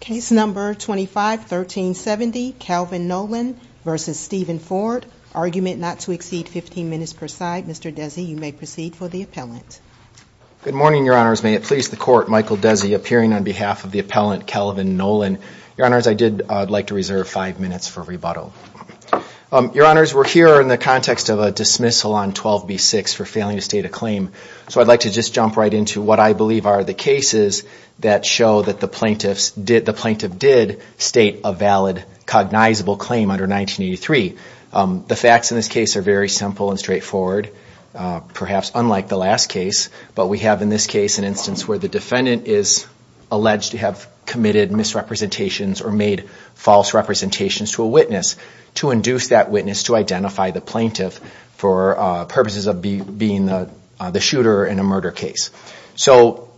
Case number 251370, Calvin Nolen versus Steven Ford. Argument not to exceed 15 minutes per side. Mr. Desi, you may proceed for the appellant. Good morning your honors. May it please the court, Michael Desi appearing on behalf of the appellant Calvin Nolen. Your honors, I did like to reserve five minutes for rebuttal. Your honors, we're here in the context of a dismissal on 12b6 for failing to state a claim, so I'd like to just jump right into what I believe are the cases that show that the plaintiff did state a valid cognizable claim under 1983. The facts in this case are very simple and straightforward, perhaps unlike the last case, but we have in this case an instance where the defendant is alleged to have committed misrepresentations or made false representations to a witness to induce that witness to identify the plaintiff for purposes of being the shooter in a murder case. So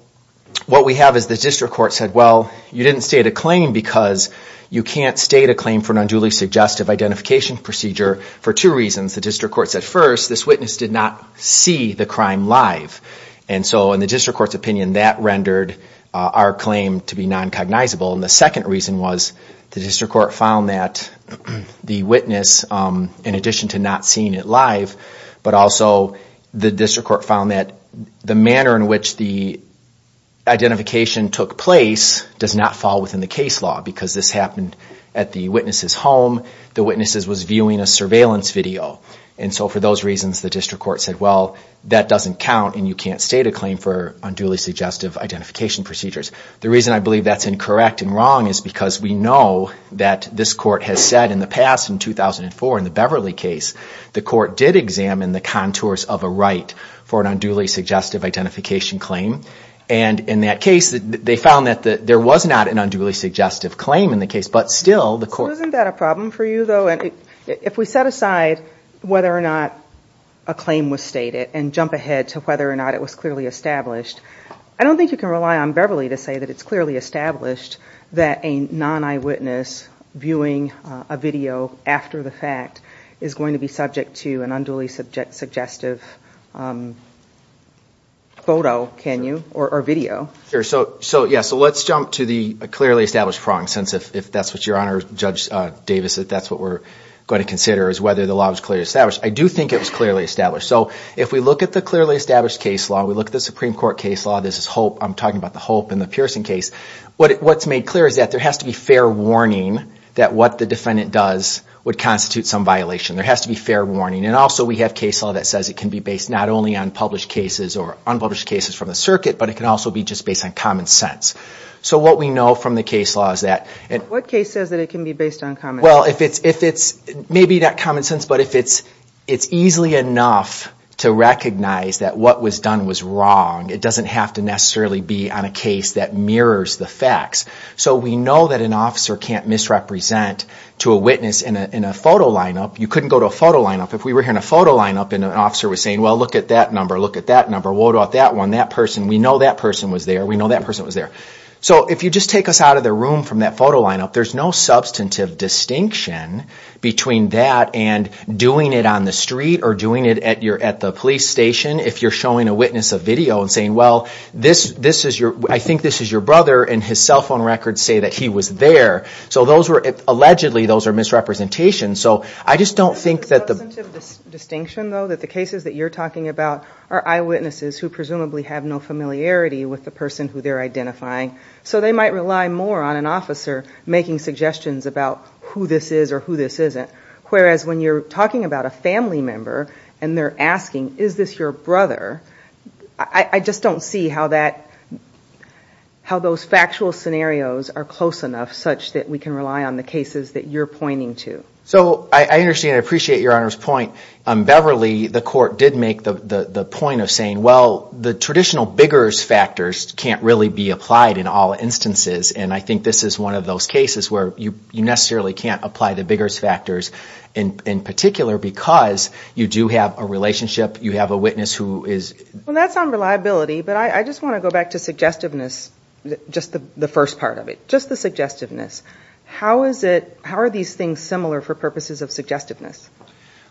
what we have is the district court said well you didn't state a claim because you can't state a claim for an unduly suggestive identification procedure for two reasons. The district court said first this witness did not see the crime live and so in the district court's opinion that rendered our claim to be non-cognizable and the second reason was the district court found that the witness in addition to not seeing it live, but also the district court found that the manner in which the identification took place does not fall within the case law because this happened at the witness's home. The witness was viewing a surveillance video and so for those reasons the district court said well that doesn't count and you can't state a claim for unduly suggestive identification procedures. The reason I believe that's incorrect and wrong is because we know that this court has said in the past in 2004 in the Beverly case the court did examine the contours of a right for an unduly suggestive identification claim and in that case they found that there was not an unduly suggestive claim in the case but still the court... Isn't that a problem for you though? If we set aside whether or not a claim was stated and jump ahead to whether or not it was clearly established, I don't think you can rely on Beverly to say that it's clearly established that a non-eyewitness viewing a video after the fact is going to be subject to an unduly suggestive photo, can you, or video. So let's jump to the clearly established prong since if that's what you're on or Judge Davis that that's what we're going to consider is whether the law was clearly established. I do think it was clearly established so if we look at the clearly established case law, we look at the Supreme Court case law, this is Hope, I'm talking about the Hope and the Pearson case, what's made clear is that there has to be fair warning that what the defendant does would constitute some violation. There has to be fair warning and also we have case law that says it can be based not only on published cases or unpublished cases from the circuit but it can also be just based on common sense. So what we know from the case law is that... What case says that it can be based on common sense? Well if it's maybe not common sense but if it's it's easily enough to recognize that what was done was wrong. It doesn't have to necessarily be on a case that mirrors the facts. So we know that an officer can't misrepresent to a witness in a photo lineup. You couldn't go to a photo lineup. If we were here in a photo lineup and an officer was saying, well look at that number, look at that number, what about that one, that person, we know that person was there, we know that person was there. So if you just take us out of the room from that photo lineup, there's no substantive distinction between that and doing it on the street or doing it at the police station if you're showing a witness a video and saying, well this this is your... I think this is your brother and his cell phone records say that he was there. So those were... Allegedly those are misrepresentations. So I just don't think that the... Substantive distinction though that the cases that you're talking about are eyewitnesses who presumably have no familiarity with the person who they're identifying. So they might rely more on an officer making suggestions about who this is or who this isn't. Whereas when you're talking about a is this your brother? I just don't see how that... How those factual scenarios are close enough such that we can rely on the cases that you're pointing to. So I understand, I appreciate your Honor's point. Beverly, the court did make the point of saying, well the traditional biggers factors can't really be applied in all instances. And I think this is one of those cases where you necessarily can't apply the biggers factors in particular because you do have a relationship, you have a witness who is... Well that's on reliability, but I just want to go back to suggestiveness. Just the first part of it. Just the suggestiveness. How is it... How are these things similar for purposes of suggestiveness?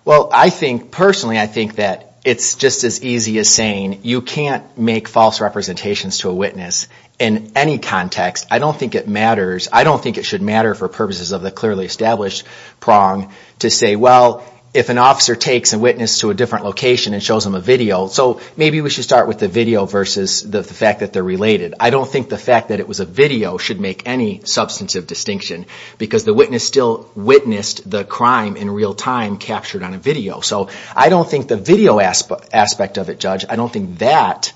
Well I think, personally I think that it's just as easy as saying you can't make false representations to a witness in any context. I don't think it matters. I don't think it should matter for purposes of the clearly established prong to say, well if an officer takes a witness to a different location and shows them a video, so maybe we should start with the video versus the fact that they're related. I don't think the fact that it was a video should make any substantive distinction because the witness still witnessed the crime in real time captured on a video. So I don't think the video aspect of it, Judge, I don't think that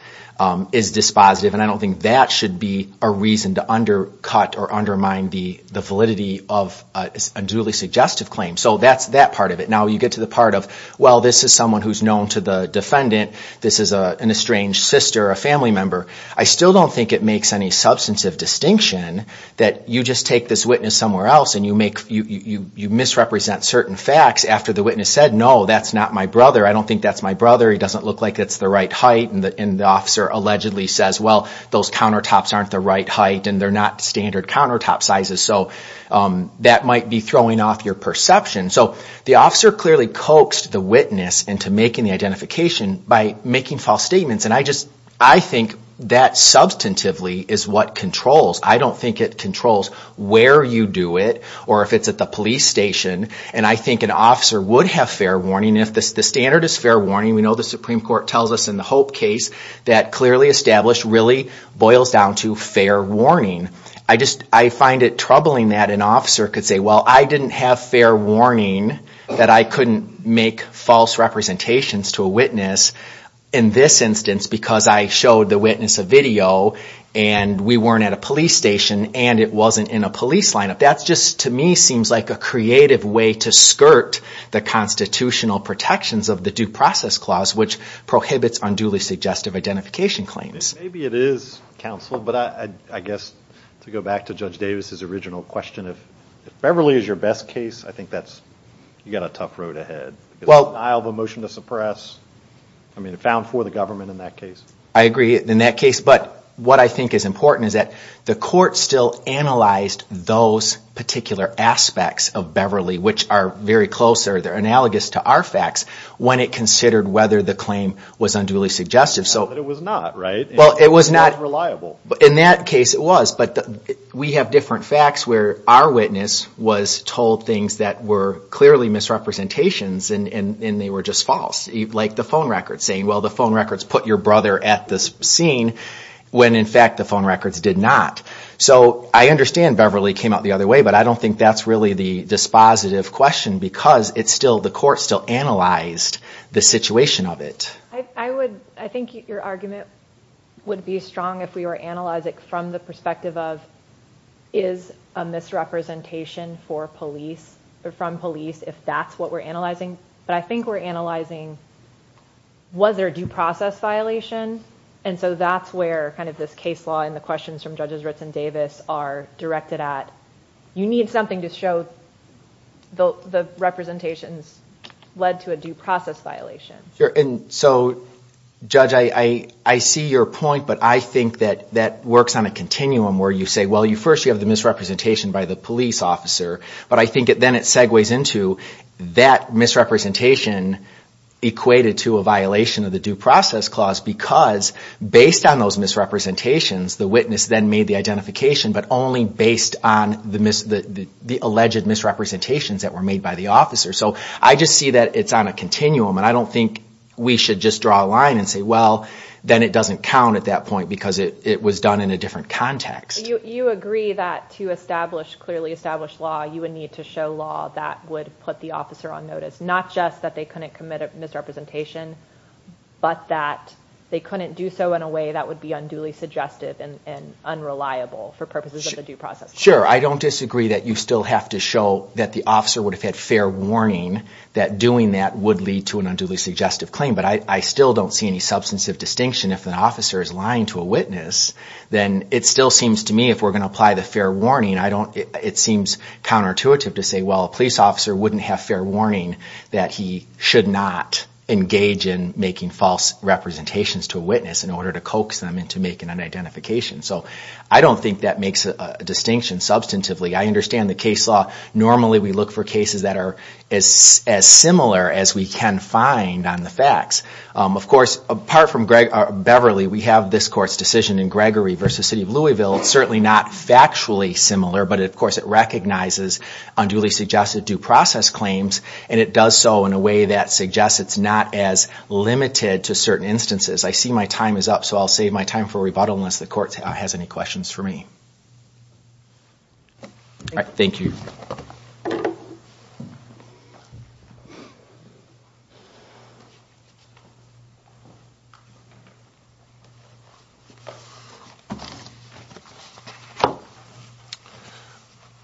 is dispositive and I don't think that should be a reason to undercut or undermine the validity of a duly suggestive claim. So that's that part of it. Now you get to the part of, well this is someone who's known to the defendant. This is an estranged sister, a family member. I still don't think it makes any substantive distinction that you just take this witness somewhere else and you make... you misrepresent certain facts after the witness said, no that's not my brother. I don't think that's my brother. He doesn't look like it's the right height and the officer allegedly says, well those countertops aren't the right height and they're not standard countertop sizes. So that might be throwing off your perception. So the officer clearly coaxed the witness into making the identification by making false statements and I just, I think that substantively is what controls. I don't think it controls where you do it or if it's at the police station and I think an officer would have fair warning if the standard is fair warning. We know the Supreme Court tells us in the Hope case that clearly established really boils down to fair warning. I just, I find it troubling that an officer could say, well I didn't have fair warning that I couldn't make false representations to a witness in this instance because I showed the witness a video and we weren't at a police station and it wasn't in a police lineup. That's just to me seems like a creative way to skirt the constitutional protections of the Due Process Clause which prohibits unduly suggestive identification claims. Maybe it is counsel, but I guess to go back to Judge Davis's original question if Beverly is your best case I think that's, you got a tough road ahead. Denial of a motion to suppress, I mean it found for the government in that case. I agree in that case, but what I think is important is that the court still analyzed those particular aspects of Beverly which are very close, they're analogous to our facts, when it considered whether the claim was unduly suggestive. So it was not, right? Well it was not reliable. In that case it was, but we have different facts where our witness was told things that were clearly misrepresentations and they were just false. Like the phone record saying, well the phone records put your brother at this scene when in fact the phone records did not. So I understand Beverly came out the other way, but I don't think that's really the dispositive question because it's still, the court still analyzed the situation of it. I would, I think your argument would be strong if we were analyzing from the perspective of, is a misrepresentation for police or from police, if that's what we're analyzing. But I think we're analyzing, was there a due process violation? And so that's where kind of this case law and the questions from Judges Ritz and Davis are directed at. You need something to show the representations led to a due process violation. Sure, and so Judge, I see your point, but I think that that works on a continuum where you say, well you first you have the misrepresentation by the police officer, but I think it then it segues into that misrepresentation equated to a violation of the Due Process Clause because based on those misrepresentations, the witness then made the identification, but only based on the alleged misrepresentations that were made by the officer. So I just see that it's on a continuum and I don't think we should just draw a line and say, well then it doesn't count at that point because it was done in a different context. You agree that to establish clearly established law, you would need to show law that would put the officer on notice. Not just that they couldn't commit a misrepresentation, but that they couldn't do so in a way that would be unduly suggestive and unreliable for purposes of the Due Process Clause. Sure, I don't disagree that you still have to show that the officer would have had fair warning that doing that would lead to an unduly suggestive claim, but I still don't see any substantive distinction. If an officer is lying to a witness, then it still seems to me if we're going to apply the fair warning, I don't, it seems counterintuitive to say, well a police officer wouldn't have fair warning that he should not engage in making false representations to a witness in order to coax them into making an identification. So I don't think that makes a distinction substantively. I understand the case law. Normally we look for cases that are as similar as we can find on the facts. Of course, apart from Beverly, we have this court's decision in Gregory versus City of Louisville. It's certainly not factually similar, but of course it recognizes unduly suggestive due process claims, and it does so in a way that suggests it's not as limited to certain instances. I see my time is up, so I'll save my time for rebuttal unless the court has any questions for me. All right, thank you.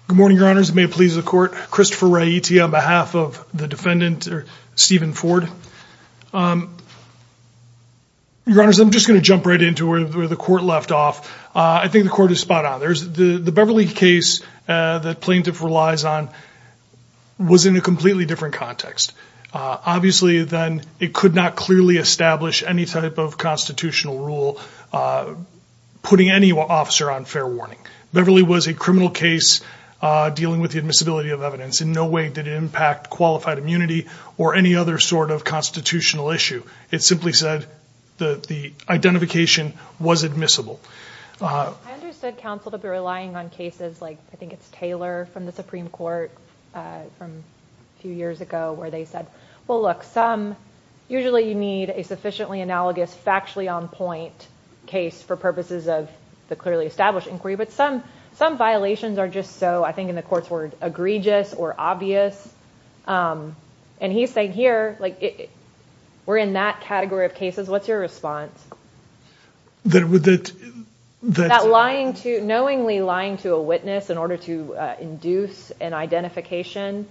Good morning, Your Honors. It may please the court. Christopher Raiti on behalf of the defendant, or Stephen Ford. Your Honors, I'm just going to jump right into where the court left off. I think the court is spot-on. The Beverly case that plaintiff relies on was in a completely different context. Obviously then it could not clearly establish any type of constitutional rule putting any officer on fair warning. Beverly was a criminal case dealing with the admissibility of evidence. In no way did it impact qualified immunity or any other sort of constitutional issue. It simply said that the identification was admissible. I understood counsel to be relying on cases like I think it's Taylor from the Supreme Court from a few years ago where they said, well look, usually you need a sufficiently analogous factually on point case for purposes of the clearly established inquiry, but some violations are just so, I think in the court's word, egregious or obvious. And he's saying we're in that category of cases. What's your response? That knowingly lying to a witness in order to induce an identification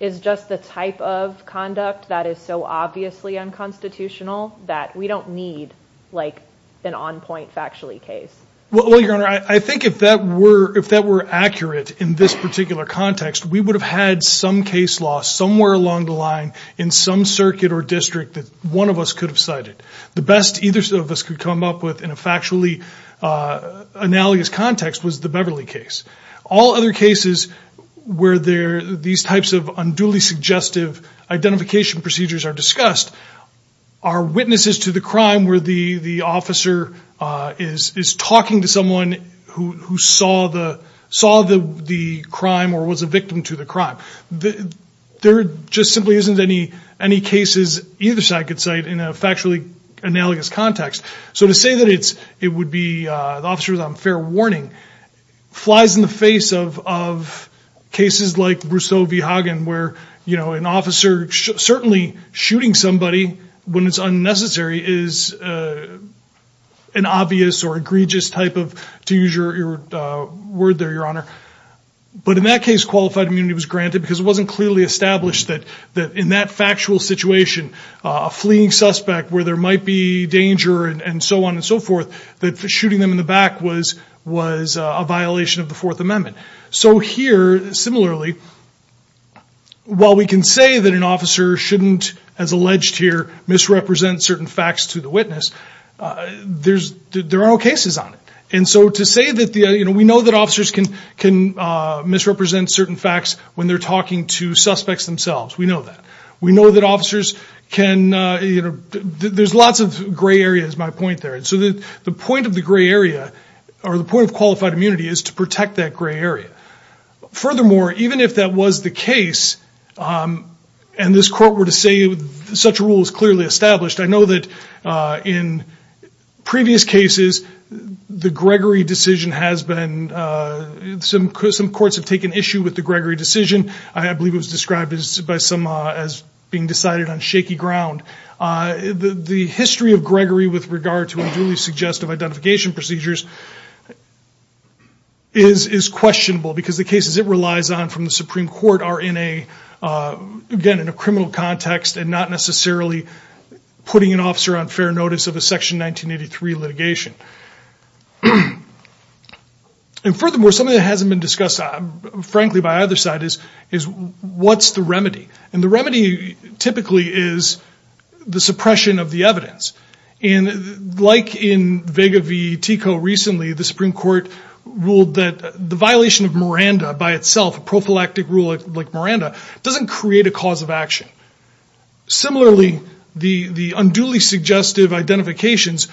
is just the type of conduct that is so obviously unconstitutional that we don't need like an on-point factually case. Well, Your Honor, I think if that were accurate in this particular context, we would have had some case law somewhere along the line in some circuit or district that one of us could have cited. The best either of us could come up with in a factually analogous context was the Beverly case. All other cases where these types of unduly suggestive identification procedures are discussed are witnesses to the crime where the officer is talking to someone who saw the crime or was a victim to the crime. There just simply isn't any cases either side could cite in a factually analogous context. So to say that it would be the officers on fair warning flies in the face of cases like Brousseau v. Hagen where, you know, an officer certainly shooting somebody when it's unnecessary is an obvious or egregious type of, to use your word there, Your Honor. But in that case, unqualified immunity was granted because it wasn't clearly established that in that factual situation, a fleeing suspect where there might be danger and so on and so forth, that shooting them in the back was a violation of the Fourth Amendment. So here, similarly, while we can say that an officer shouldn't, as alleged here, misrepresent certain facts to the witness, there are no cases on it. And so to say that, you know, we know that officers can misrepresent certain facts when they're talking to suspects themselves, we know that. We know that officers can, you know, there's lots of gray areas, my point there. And so the point of the gray area or the point of qualified immunity is to protect that gray area. Furthermore, even if that was the case and this court were to say such a rule is clearly established, I know that in previous cases, the Gregory decision has been, some courts have taken issue with the Gregory decision. I believe it was described by some as being decided on shaky ground. The history of Gregory with regard to unduly suggestive identification procedures is questionable because the cases it relies on from the Supreme Court are in a, again, in a criminal context and not necessarily putting an officer on fair notice of a section 1983 litigation. And furthermore, something that hasn't been discussed, frankly, by either side is what's the remedy? And the remedy typically is the suppression of the evidence. And like in Vega v. Tico recently, the Supreme Court ruled that the violation of Miranda by itself, a prophylactic rule like Miranda, doesn't create a cause of action. Similarly, the unduly suggestive identifications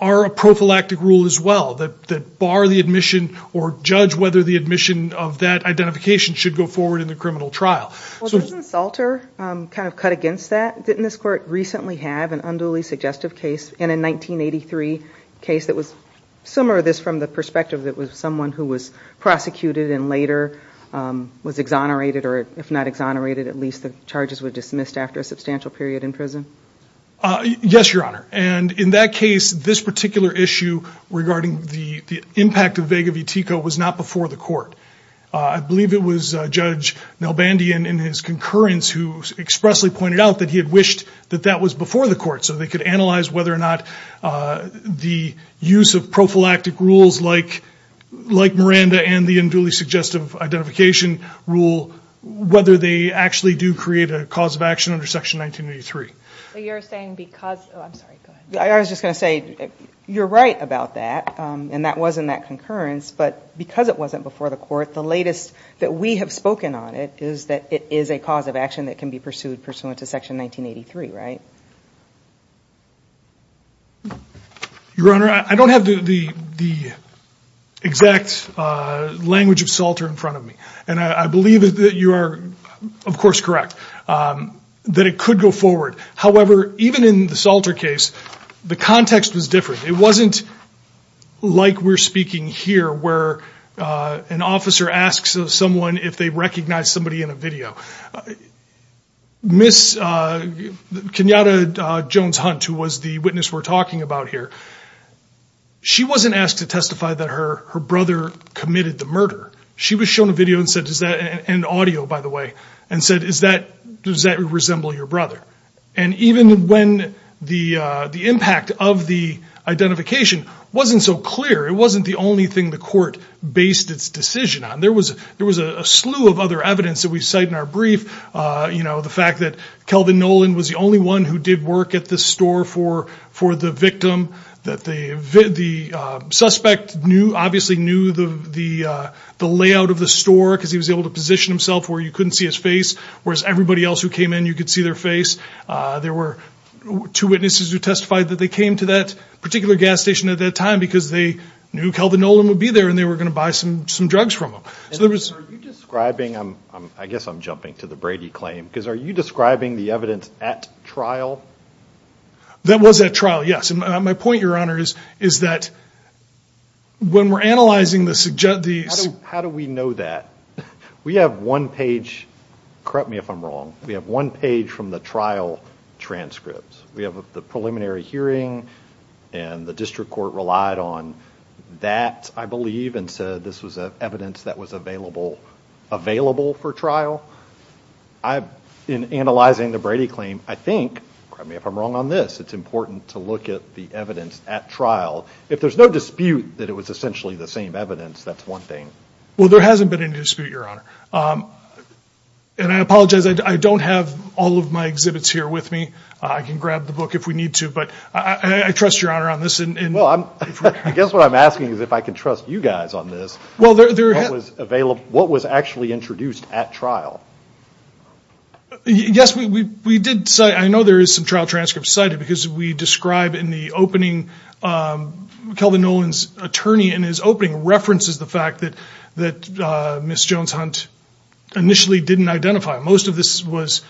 are a prophylactic rule as well that bar the admission or judge whether the admission of that identification should go forward in the criminal trial. Well, doesn't Salter kind of cut against that? Didn't this court recently have an unduly suggestive case in a 1983 case that was similar to this from the perspective that was someone who was prosecuted and later was exonerated, or if not exonerated, at least the charges were dismissed after a substantial period in prison? Yes, Your Honor. And in that case, this particular issue regarding the impact of Vega v. Tico was not before the court. I believe it was Judge Nelbandian in his concurrence who expressly pointed out that he had wished that that was before the court so they could analyze whether or not the use of prophylactic rules like Miranda and the unduly suggestive identification rule, whether they actually do create a cause of action under Section 1983. I was just going to say you're right about that and that wasn't that concurrence, but because it wasn't before the court, the latest that we have spoken on it is that it is a cause of action that can be pursued pursuant to Section 1983, right? Your Honor, I don't have the exact language of Salter in front of me and I believe that you are of course correct that it could go forward. However, even in the Salter case, the context was different. It wasn't like we're speaking here where an officer asks of someone if they recognize somebody in a video. Ms. Kenyatta Jones-Hunt, who was the witness we're talking about here, she wasn't asked to testify that her brother committed the murder. She was shown a video and audio, by the way, and said does that resemble your brother? And even when the impact of the identification wasn't so clear, it wasn't the only thing the court based its decision on. There was a slew of other evidence that we cite in our brief. You know, the fact that Kelvin Nolan was the only one who did work at the store for the victim, that the suspect knew, obviously knew, the layout of the store because he was able to position himself where you couldn't see his face, whereas everybody else who came in you could see their face. There were two witnesses who testified that they came to that particular gas station at that time because they knew Kelvin Nolan would be there and they were going to buy some drugs from him. I guess I'm jumping to the Brady claim because are you describing the evidence at trial? That was at trial, yes. And my point, your honor, is that when we're analyzing the... How do we know that? We have one page, correct me if I'm wrong, we have one page from the trial transcripts. We have the preliminary hearing and the district court relied on that, I believe, and said this was evidence that was available for trial. I've, in analyzing the Brady claim, I think, correct me if I'm wrong on this, it's important to look at the evidence at trial. If there's no dispute that it was essentially the same evidence, that's one thing. Well, there hasn't been any dispute, your honor, and I apologize, I don't have all of my exhibits here with me. I can grab the book if we need to, but I trust your honor on this. Well, I guess what I'm asking is if I can trust you guys on this, what was actually introduced at trial? Yes, we did cite, I know there is some trial transcripts cited because we describe in the opening, Kelvin Nolan's attorney in his opening references the fact that that Ms. Jones-Hunt initially didn't identify. Most of this was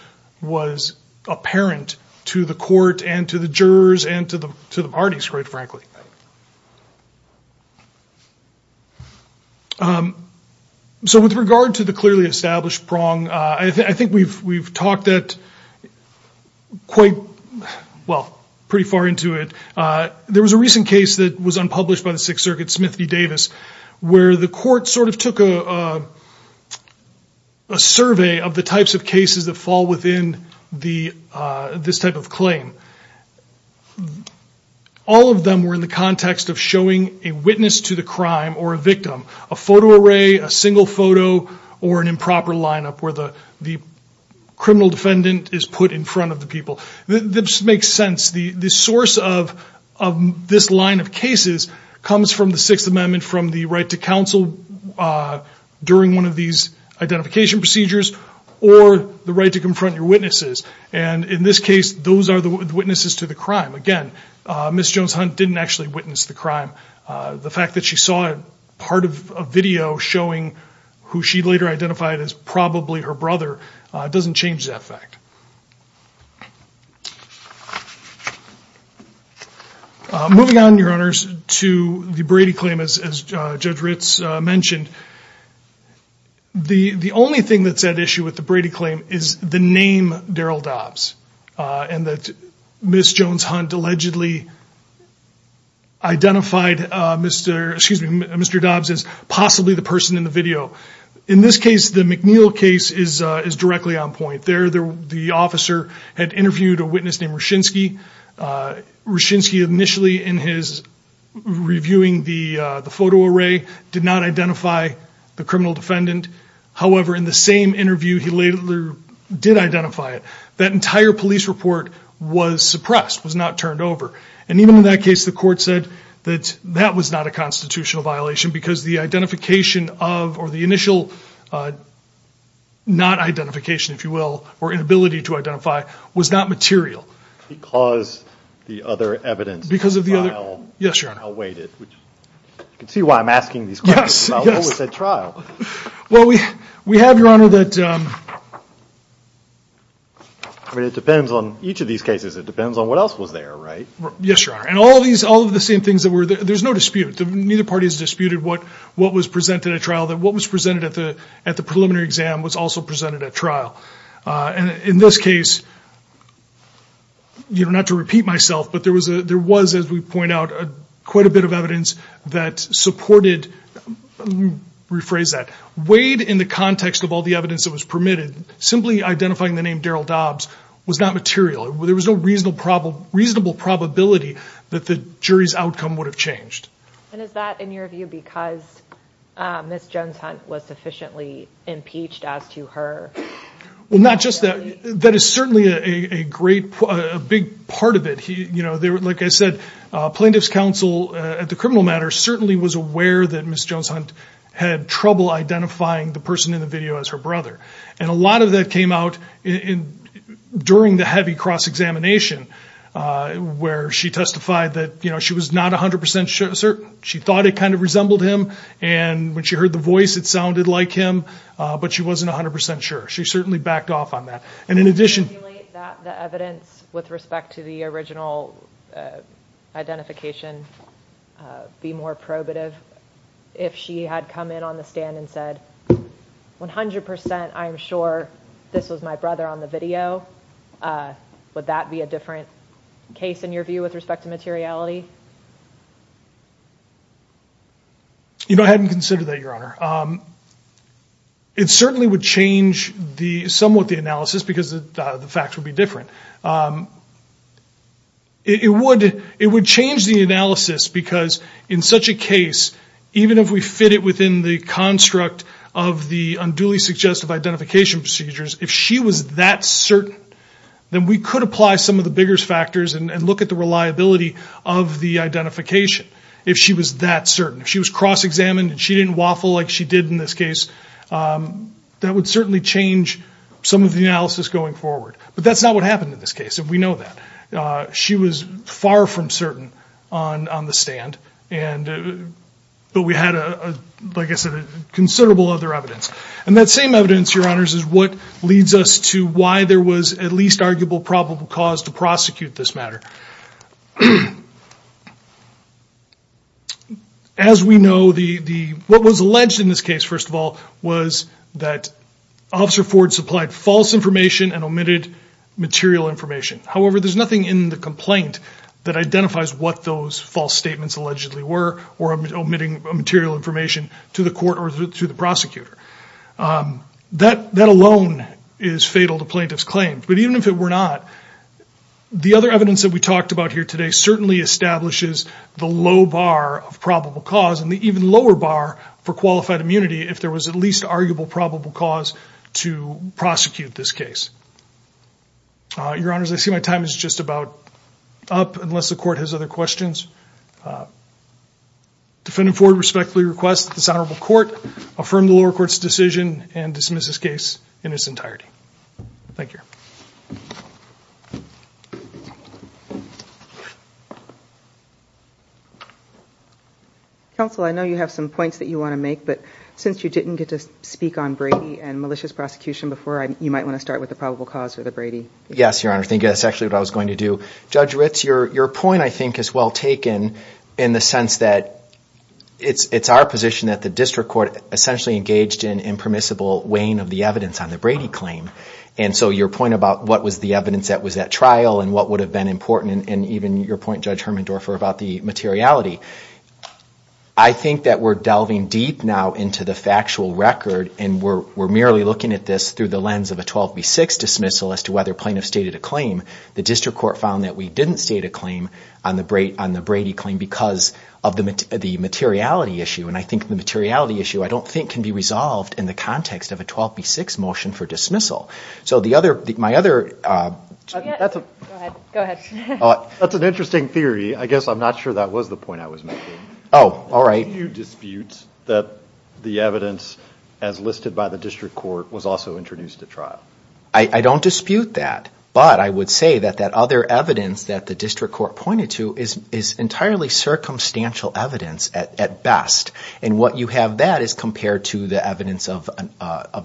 apparent to the court and to the jurors and to the parties, quite frankly. So with regard to the clearly established prong, I think we've talked at quite, well, pretty far into it. There was a recent case that was unpublished by the Sixth Circuit, Smith v. Davis, where the court sort of took a survey of the types of cases that fall within this type of claim. All of them were in the context of showing a witness to the crime or a victim, a photo array, a single photo, or an improper lineup where the criminal defendant is put in front of the people. This makes sense. The source of this line of cases comes from the Sixth Amendment, from the right to counsel during one of these identification procedures, or the right to confront your witnesses. And in this case, those are the witnesses to the crime. Again, Ms. Jones-Hunt didn't actually witness the crime. The fact that she saw it, part of a video showing who she later identified as probably her brother, doesn't change that fact. Moving on, Your Honors, to the Brady claim, as Judge Ritz mentioned, the the only thing that's at issue with the Brady claim is the name Daryl Dobbs and that Ms. Jones-Hunt allegedly identified Mr. Dobbs as possibly the person in the video. In this case, the McNeil case is directly on point. There, the officer had interviewed a witness named Ryschynski. Ryschynski, initially in his reviewing the photo array, did not identify the criminal defendant. However, in the same interview, he later did identify it. That entire police report was suppressed, was not turned over. And even in that case, the court said that that was not a constitutional violation because the identification of, or the initial not-identification, if you will, or inability to identify, was not material. Because the other evidence, the trial, awaited. Yes, Your Honor. You can see why I'm asking these questions. Yes, yes. About what was at trial. Well, we have, Your Honor, that, I mean, it depends on each of these cases. It depends on what else was there, right? Yes, Your Honor. And all of these, all of the same things that were there, there's no dispute. Neither party has disputed what what was presented at trial, that what was presented at the at the preliminary exam was also presented at trial. And in this case, you know, not to repeat myself, but there was a, there was, as we point out, quite a bit of evidence that supported, rephrase that, weighed in the context of all the evidence that was permitted. Simply identifying the name Daryl Dobbs was not material. There was no reasonable probability that the jury's outcome would have changed. And is that, in your view, because Ms. Jones-Hunt was sufficiently impeached as to her... Well, not just that. That is certainly a great, a big part of it. You know, they were, like I said, Plaintiff's Counsel at the criminal matter certainly was aware that Ms. Jones-Hunt had trouble identifying the person in the video as her brother. And a lot of that came out in, during the heavy cross-examination, where she testified that, you know, she was not a hundred percent certain. She thought it kind of resembled him, and when she heard the voice it sounded like him, but she wasn't a hundred percent sure. She certainly backed off on that. And in addition... Can you emulate that, the evidence, with respect to the original identification, be more probative? If she had come in on the stand and said, one hundred percent I'm sure this was my brother on the video, would that be a different case, in your view, with respect to materiality? You know, I hadn't considered that, Your Honor. It certainly would change the, somewhat the analysis, because the facts would be different. It would change the analysis, because in such a case, even if we fit it within the construct of the unduly suggestive identification procedures, if she was that certain, then we could apply some of the bigger factors and look at the reliability of the identification, if she was that certain. If she was cross-examined and she waffled like she did in this case, that would certainly change some of the analysis going forward. But that's not what happened in this case, and we know that. She was far from certain on the stand, but we had a, like I said, considerable other evidence. And that same evidence, Your Honors, is what leads us to why there was at least arguable probable cause to prosecute this matter. As we know, what was alleged in this case, first of all, was that Officer Ford supplied false information and omitted material information. However, there's nothing in the complaint that identifies what those false statements allegedly were, or omitting material information to the court or to the prosecutor. That alone is fatal to plaintiff's claims. But even if it were not, the other evidence that we talked about here today certainly establishes the low bar of probable cause and the even lower bar for qualified immunity if there was at least arguable probable cause to prosecute this case. Your Honors, I see my time is just about up, unless the court has other questions. Defendant Ford respectfully requests that this honorable court affirm the lower bar of probable cause to prosecute this case in its entirety. Thank you. Counsel, I know you have some points that you want to make, but since you didn't get to speak on Brady and malicious prosecution before, you might want to start with the probable cause for the Brady. Yes, Your Honors. I think that's actually what I was going to do. Judge Ritz, your point, I think, is well taken in the sense that it's our position that the district court essentially engaged in impermissible weighing of the evidence on the Brady claim. And so your point about what was the evidence that was at trial and what would have been important, and even your point, Judge Hermendorfer, about the materiality, I think that we're delving deep now into the factual record and we're merely looking at this through the lens of a 12 v 6 dismissal as to whether plaintiff stated a claim. The district court found that we didn't state a claim on the Brady claim because of the materiality issue. And I think the materiality issue, I don't think, can be resolved in the context of a 12 v 6 motion for dismissal. So the other, my other... That's an interesting theory. I guess I'm not sure that was the point I was making. Oh, all right. Do you dispute that the evidence as listed by the district court was also introduced at trial? I don't dispute that, but I would say that that other evidence that the district court pointed to is entirely circumstantial evidence at best. And what you have that is compared to the evidence of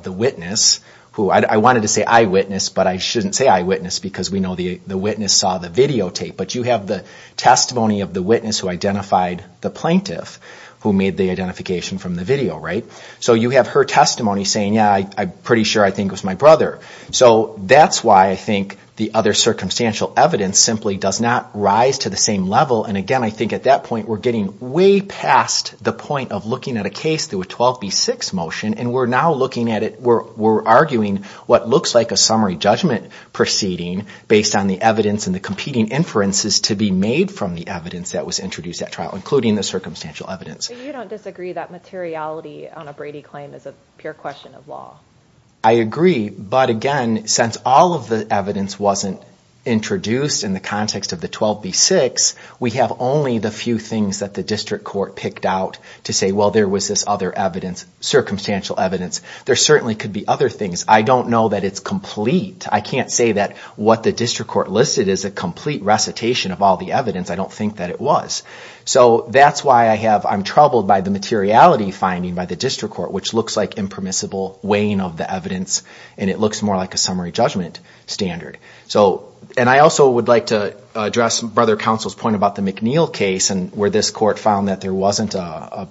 the witness who, I wanted to say eyewitness, but I shouldn't say eyewitness because we know the witness saw the videotape, but you have the testimony of the witness who identified the plaintiff who made the identification from the video, right? So you have her testimony saying, yeah, I'm pretty sure I think it was my brother. So that's why I think the other circumstantial evidence simply does not rise to the same level. And again, I think at that point, we're getting way past the point of looking at a case through a 12 v 6 motion. And we're now looking at it, we're arguing what looks like a summary judgment proceeding based on the evidence and the competing inferences to be made from the evidence that was introduced at trial, including the circumstantial evidence. So you don't disagree that materiality on a Brady claim is a pure question of law. I agree. But again, since all of the evidence wasn't introduced in the context of the 12 v 6, we have only the few things that the district court picked out to say, well, there was this other evidence, circumstantial evidence. There certainly could be other things. I don't know that it's complete. I can't say that what the district court listed is a complete recitation of all the evidence. I don't think that it was. So that's why I'm troubled by the materiality finding by the district court, which looks like an impermissible weighing of the evidence, and it looks more like a summary judgment standard. So, and I also would like to address Brother Counsel's point about the McNeil case and where this court found that there wasn't a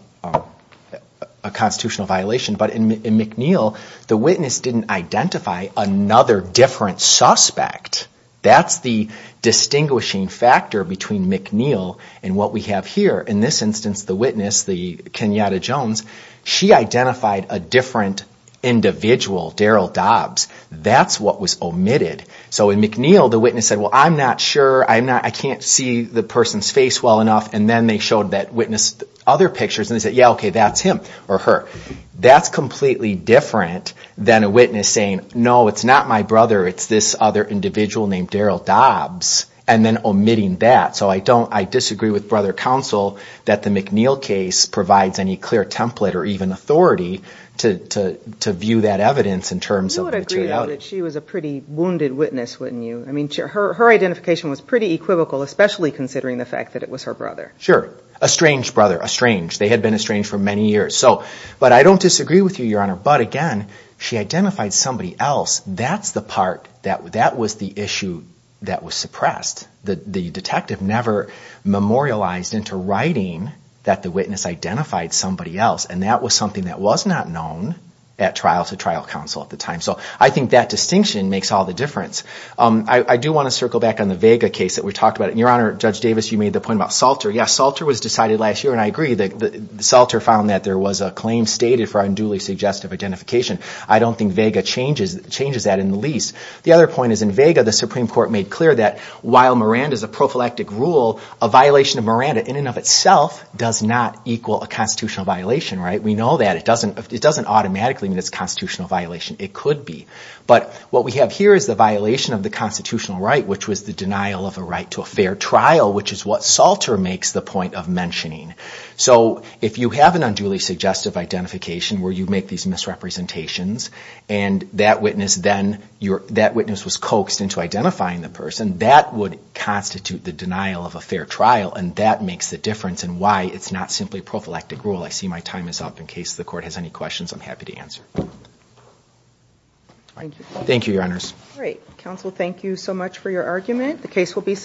constitutional violation. But in McNeil, the witness didn't identify another different suspect. That's the distinguishing factor between McNeil and what we have here. In this instance, the witness, the Kenyatta Jones, she identified a different individual, Darrell Dobbs. That's what was omitted. So in McNeil, the witness said, well, I'm not sure. I'm not, I can't see the person's face well enough. And then they showed that witness other pictures and they said, yeah, okay, that's him or her. That's completely different than a witness saying, no, it's not my brother. It's this other individual named Darrell Dobbs, and then omitting that. So I don't, I disagree with Brother Counsel that the McNeil case provides any clear template or even authority to view that evidence in terms of materiality. You would agree that she was a pretty wounded witness, wouldn't you? I mean, her identification was pretty equivocal, especially considering the fact that it was her brother. Sure. A strange brother, a strange. They had been estranged for many years. So, but I don't disagree with you, Your Honor. But again, she identified somebody else. That's the part that, that was the issue that was suppressed. The detective never memorialized into writing that the witness identified somebody else. And that was something that was not known at trial to trial counsel at the time. So I think that distinction makes all the difference. I do want to circle back on the Vega case that we talked about. And Your Honor, Judge Davis, you made the point about Salter. Yes, Salter was decided last year, and I agree. Salter found that there was a claim stated for unduly suggestive identification. I don't think Vega changes that in the least. The other point is in Vega, the Supreme Court made clear that while Miranda is a prophylactic rule, a violation of Miranda in and of itself does not equal a constitutional violation, right? We know that. It doesn't, it doesn't automatically mean it's a constitutional violation. It could be. But what we have here is the violation of the constitutional right, which was the denial of a right to a fair trial, which is what Salter makes the point of mentioning. So if you have an unduly suggestive identification where you make these misrepresentations, and that witness then, that witness was coaxed into identifying the person, that would constitute the denial of a fair trial. And that makes the difference in why it's not simply prophylactic rule. I see my time is up. In case the court has any questions, I'm happy to answer. Thank you, Your Honors. Great. Counsel, thank you so much for your argument. The case will be submitted.